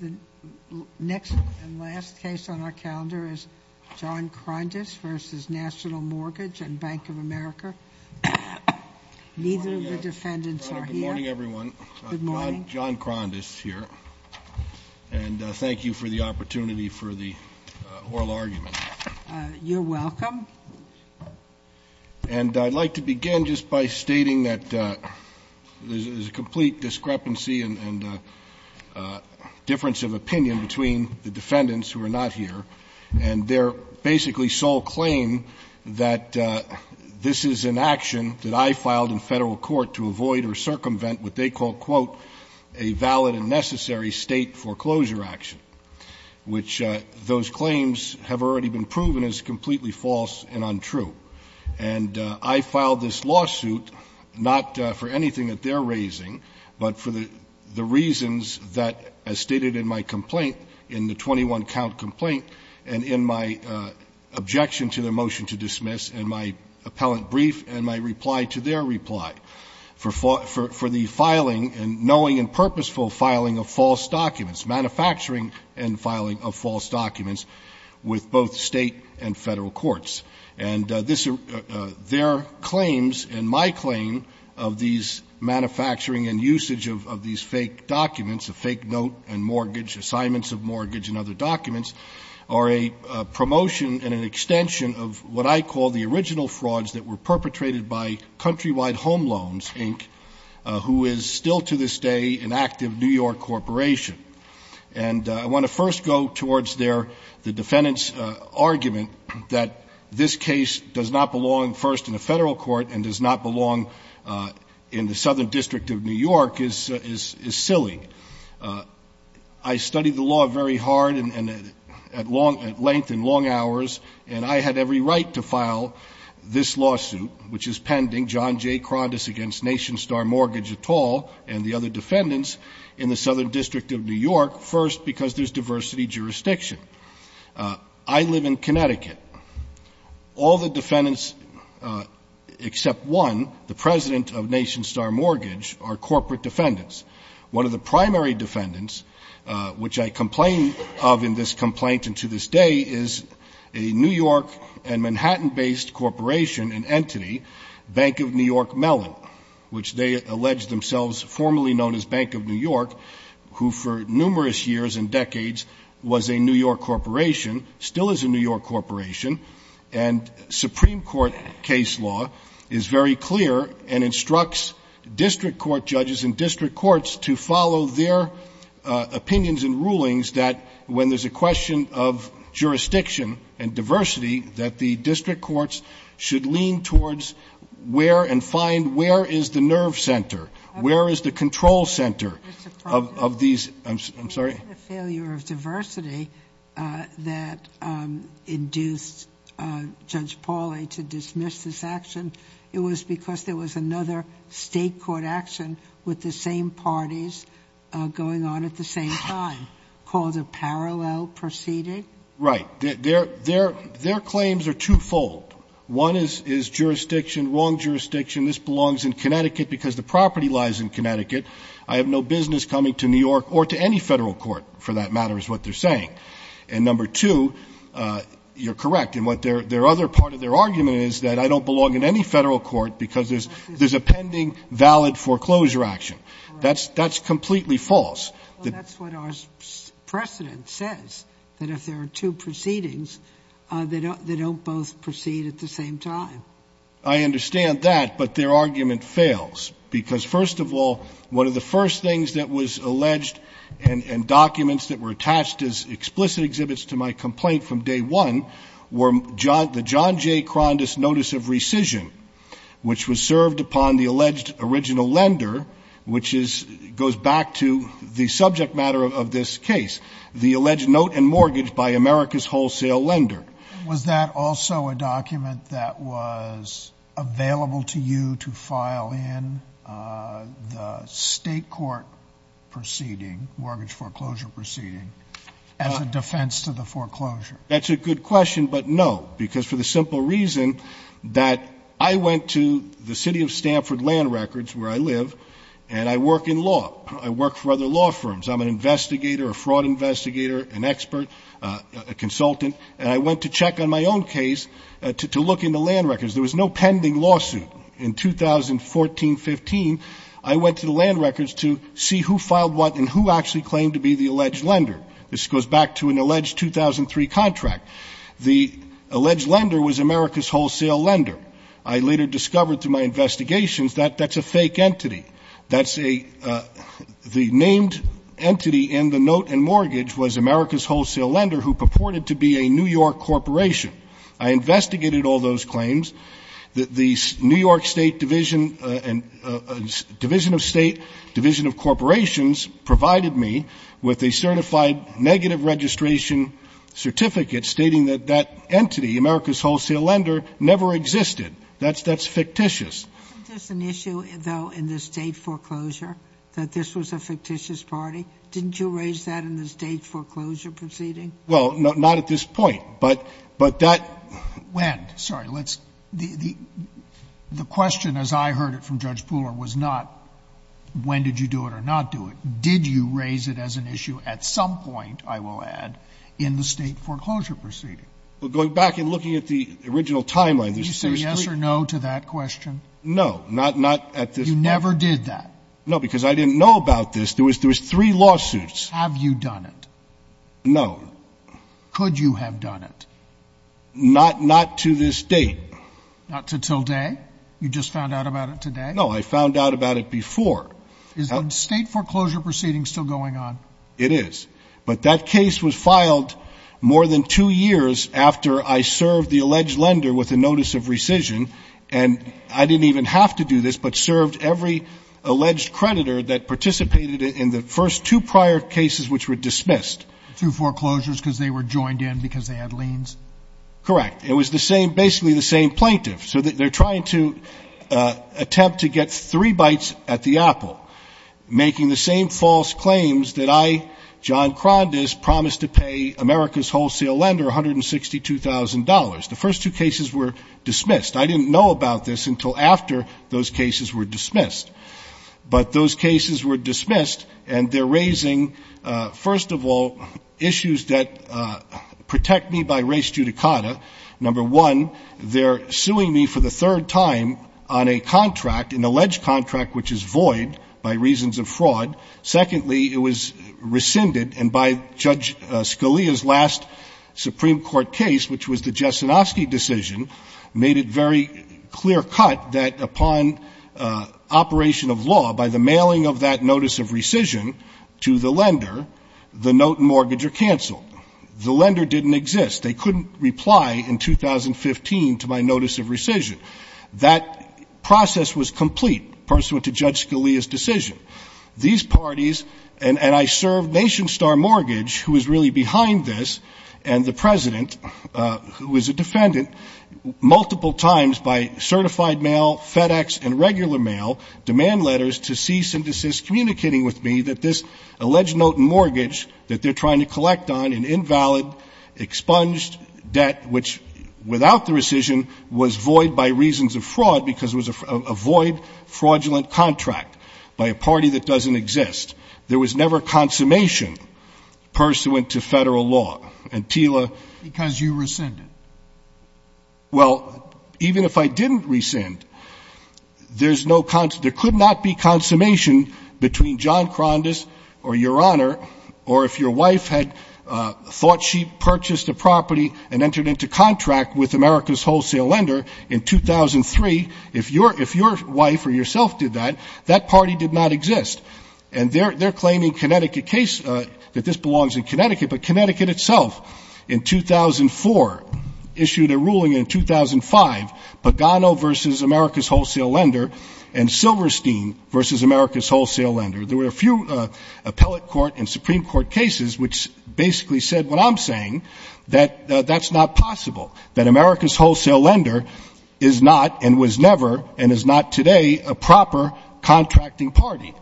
The next and last case on our calendar is John Krondes v. National Mortgage and Bank of America. Neither of the defendants are here. Good morning, everyone. Good morning. John Krondes here. And thank you for the opportunity for the oral argument. You're welcome. And I'd like to begin just by stating that there's a complete discrepancy and difference of opinion between the defendants who are not here. And they're basically sole claim that this is an action that I filed in federal court to avoid or circumvent what they call, quote, a valid and necessary state foreclosure action, which those claims have already been proven as completely false and untrue. And I filed this lawsuit not for anything that they're raising, but for the reasons that, as stated in my complaint, in the 21-count complaint and in my objection to the motion to dismiss and my appellant brief and my reply to their reply. For the filing and knowing and purposeful filing of false documents, manufacturing and filing of false documents with both state and federal courts. And their claims and my claim of these manufacturing and usage of these fake documents, of fake note and mortgage, assignments of mortgage and other documents, are a promotion and an extension of what I call the original frauds that were perpetrated by Countrywide Home Loans, Inc., who is still to this day an active New York corporation. And I want to first go towards their, the defendant's argument that this case does not belong first in a federal court and does not belong in the Southern District of New York is silly. I studied the law very hard and at length and long hours, and I had every right to file this lawsuit, which is pending, John J. Krandus against Nation Star Mortgage et al. and the other defendants in the Southern District of New York, first because there's diversity jurisdiction. I live in Connecticut. All the defendants except one, the president of Nation Star Mortgage, are corporate defendants. One of the primary defendants, which I complain of in this complaint and to this day, is a New York and Manhattan-based corporation and entity, Bank of New York Mellon, which they allege themselves formerly known as Bank of New York, who for numerous years and decades was a New York corporation, still is a New York corporation, and Supreme Court case law is very clear and instructs district court judges and district courts to follow their opinions and rulings that when there's a question of jurisdiction and diversity, that the district courts should lean towards where and find where is the nerve center, where is the control center of these. I'm sorry. The failure of diversity that induced Judge Pauley to dismiss this action, it was because there was another state court action with the same parties going on at the same time called a parallel proceeding? Right. Their claims are twofold. One is jurisdiction, wrong jurisdiction. This belongs in Connecticut because the property lies in Connecticut. I have no business coming to New York or to any federal court, for that matter, is what they're saying. And number two, you're correct in what their other part of their argument is, that I don't belong in any federal court because there's a pending valid foreclosure action. That's completely false. That's what our precedent says, that if there are two proceedings, they don't both proceed at the same time. I understand that, but their argument fails because, first of all, one of the first things that was alleged and documents that were attached as explicit exhibits to my complaint from day one were the John J. Krondus notice of rescission, which was served upon the alleged original lender, which goes back to the subject matter of this case, the alleged note and mortgage by America's wholesale lender. Was that also a document that was available to you to file in the state court proceeding, mortgage foreclosure proceeding, as a defense to the foreclosure? That's a good question, but no, because for the simple reason that I went to the city of Stanford Land Records, where I live, and I work in law. I work for other law firms. I'm an investigator, a fraud investigator, an expert, a consultant. And I went to check on my own case to look in the land records. There was no pending lawsuit. In 2014-15, I went to the land records to see who filed what and who actually claimed to be the alleged lender. This goes back to an alleged 2003 contract. The alleged lender was America's wholesale lender. I later discovered through my investigations that that's a fake entity. That's a the named entity in the note and mortgage was America's wholesale lender, who purported to be a New York corporation. I investigated all those claims. The New York State Division and Division of State, Division of Corporations, provided me with a certified negative registration certificate stating that that entity, America's wholesale lender, never existed. That's fictitious. Sotomayor, isn't this an issue, though, in the State foreclosure, that this was a fictitious party? Didn't you raise that in the State foreclosure proceeding? Well, not at this point. But that — When? Sorry. Let's — the question, as I heard it from Judge Pooler, was not when did you do it or not do it. Did you raise it as an issue at some point, I will add, in the State foreclosure proceeding? Well, going back and looking at the original timeline, there's a serious — Yes or no to that question? No. Not at this point. You never did that? No, because I didn't know about this. There was three lawsuits. Have you done it? No. Could you have done it? Not to this date. Not until today? You just found out about it today? No, I found out about it before. Is the State foreclosure proceeding still going on? It is. But that case was filed more than two years after I served the alleged lender with a notice of rescission. And I didn't even have to do this, but served every alleged creditor that participated in the first two prior cases which were dismissed. Two foreclosures because they were joined in because they had liens? Correct. It was the same — basically the same plaintiff. So they're trying to attempt to get three bites at the apple, making the same false claims that I, John Krandus, promised to pay America's wholesale lender $162,000. The first two cases were dismissed. I didn't know about this until after those cases were dismissed. But those cases were dismissed, and they're raising, first of all, issues that protect me by race judicata. Number one, they're suing me for the third time on a contract, an alleged contract which is void by reasons of fraud. Secondly, it was rescinded. And by Judge Scalia's last Supreme Court case, which was the Jesenowski decision, made it very clear-cut that upon operation of law, by the mailing of that notice of rescission to the lender, the note and mortgage are canceled. The lender didn't exist. They couldn't reply in 2015 to my notice of rescission. That process was complete pursuant to Judge Scalia's decision. These parties, and I served Nation Star Mortgage, who is really behind this, and the President, who is a defendant, multiple times by certified mail, FedEx, and regular mail, demand letters to cease and desist, communicating with me that this alleged note and mortgage that they're trying to collect on, an invalid, expunged debt, which, without the rescission, was void by reasons of fraud because it was a void, fraudulent contract by a party that doesn't exist. There was never consummation pursuant to Federal law. And Tila- Because you rescinded. Well, even if I didn't rescind, there's no consummation. There could not be consummation between John Krandus or Your Honor, or if your wife had thought she or yourself did that, that party did not exist. And they're claiming Connecticut case, that this belongs in Connecticut, but Connecticut itself, in 2004, issued a ruling in 2005, Pagano v. America's Wholesale Lender and Silverstein v. America's Wholesale Lender. There were a few appellate court and Supreme Court cases which basically said what I'm saying, that that's not possible, that America's Wholesale Lender is not and was never and is not today a proper contracting party.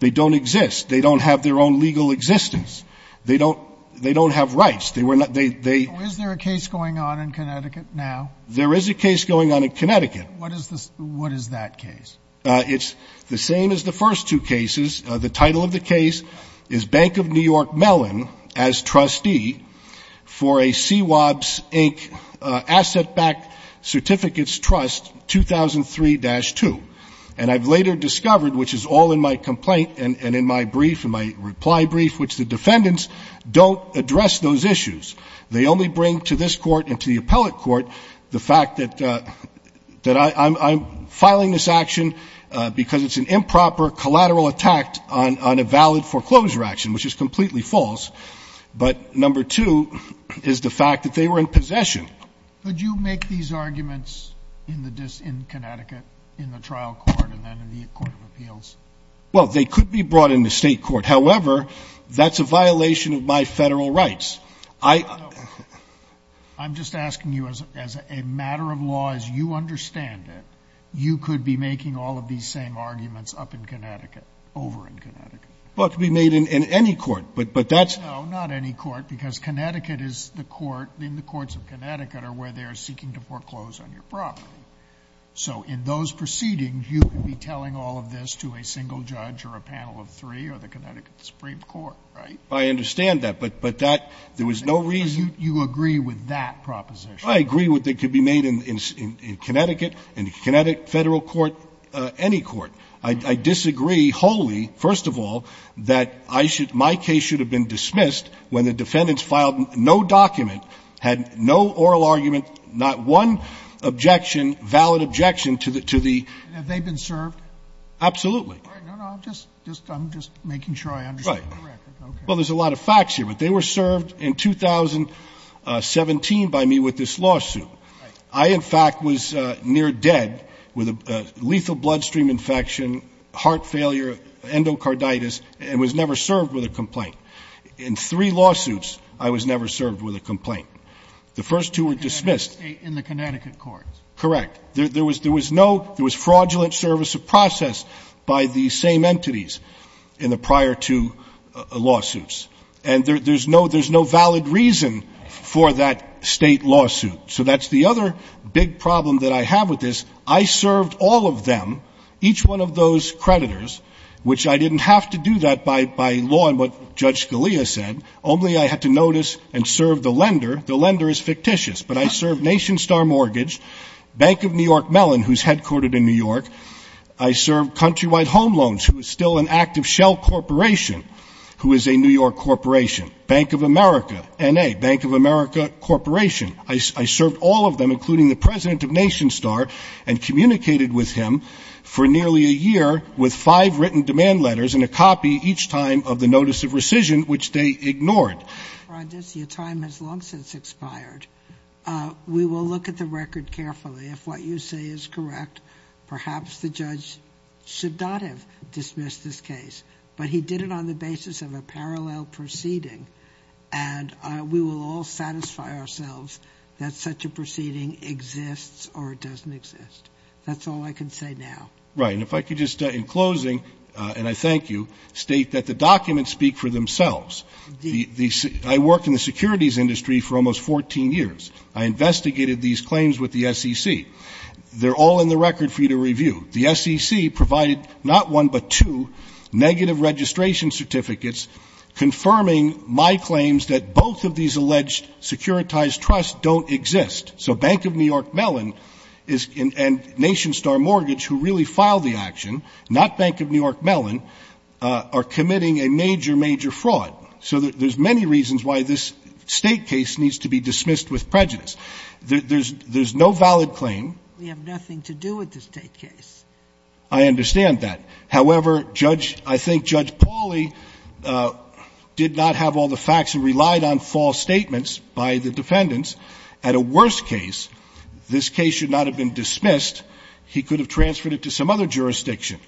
They don't exist. They don't have their own legal existence. They don't have rights. They were not they- Is there a case going on in Connecticut now? There is a case going on in Connecticut. What is that case? It's the same as the first two cases. The title of the case is Bank of New York Mellon as trustee for a CWOBS Inc. asset-backed certificates trust 2003-2. And I've later discovered, which is all in my complaint and in my brief and my reply brief, which the defendants don't address those issues. They only bring to this court and to the appellate court the fact that I'm filing this action because it's an improper or collateral attack on a valid foreclosure action, which is completely false. But number two is the fact that they were in possession. Could you make these arguments in Connecticut in the trial court and then in the court of appeals? Well, they could be brought in the state court. However, that's a violation of my Federal rights. I'm just asking you as a matter of law, as you understand it, you could be making all of these same arguments up in Connecticut, over in Connecticut. Well, it could be made in any court. But that's not any court, because Connecticut is the court. In the courts of Connecticut are where they are seeking to foreclose on your property. So in those proceedings, you could be telling all of this to a single judge or a panel of three or the Connecticut Supreme Court, right? I understand that. But that, there was no reason. You agree with that proposition. I agree with it. It could be made in Connecticut, in Connecticut Federal Court, any court. I disagree wholly, first of all, that I should, my case should have been dismissed when the defendants filed no document, had no oral argument, not one objection, valid objection to the, to the. Have they been served? Absolutely. No, no, I'm just, I'm just making sure I understand the record. Right. Well, there's a lot of facts here. But they were served in 2017 by me with this lawsuit. Right. I, in fact, was near dead with a lethal bloodstream infection, heart failure, endocarditis, and was never served with a complaint. In three lawsuits, I was never served with a complaint. The first two were dismissed. In the Connecticut court. Correct. There was, there was no, there was fraudulent service of process by the same entities in the prior two lawsuits. And there's no, there's no valid reason for that State lawsuit. So that's the other big problem that I have with this. I served all of them, each one of those creditors, which I didn't have to do that by, by law and what Judge Scalia said, only I had to notice and serve the lender. The lender is fictitious. But I served Nation Star Mortgage, Bank of New York Mellon, who's headquartered in New York. I served Countrywide Home Loans, who is still an active shell corporation, who is a New York corporation. Bank of America, N.A., Bank of America Corporation. I served all of them, including the president of Nation Star, and communicated with him for nearly a year with five written demand letters and a copy each time of the notice of rescission, which they ignored. Your time has long since expired. We will look at the record carefully. If what you say is correct, perhaps the judge should not have dismissed this case. But he did it on the basis of a parallel proceeding. And we will all satisfy ourselves that such a proceeding exists or it doesn't exist. That's all I can say now. Right. And if I could just, in closing, and I thank you, state that the documents speak for themselves. Indeed. I worked in the securities industry for almost 14 years. I investigated these claims with the SEC. They're all in the record for you to review. The SEC provided not one but two negative registration certificates confirming my claims that both of these alleged securitized trusts don't exist. So Bank of New York Mellon and Nation Star Mortgage, who really filed the action, not Bank of New York Mellon, are committing a major, major fraud. So there's many reasons why this state case needs to be dismissed with prejudice. There's no valid claim. We have nothing to do with the state case. I understand that. However, Judge, I think Judge Pauly did not have all the facts and relied on false statements by the defendants. At a worst case, this case should not have been dismissed. He could have transferred it to some other jurisdiction.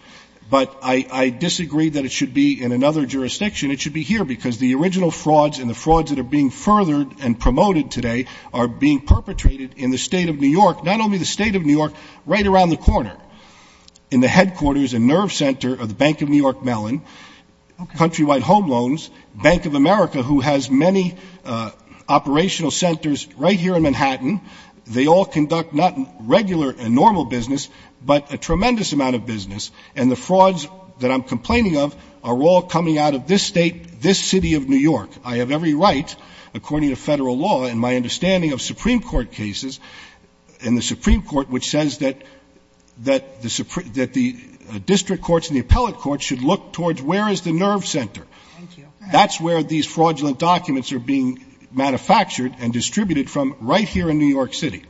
But I disagree that it should be in another jurisdiction. It should be here because the original frauds and the frauds that are being furthered and promoted today are being perpetrated in the state of New York, not only the state of New York, right around the corner. In the headquarters and nerve center of the Bank of New York Mellon, Countrywide Home Loans, Bank of America, who has many operational centers right here in Manhattan, they all conduct not regular and normal business, but a tremendous amount of business. And the frauds that I'm complaining of are all coming out of this state, this city of New York. I have every right, according to Federal law and my understanding of Supreme Court cases, in the Supreme Court, which says that the district courts and the appellate courts should look towards where is the nerve center. That's where these fraudulent documents are being manufactured and distributed from right here in New York City.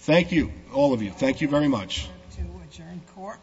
Thank you, all of you. Thank you very much. To adjourn court.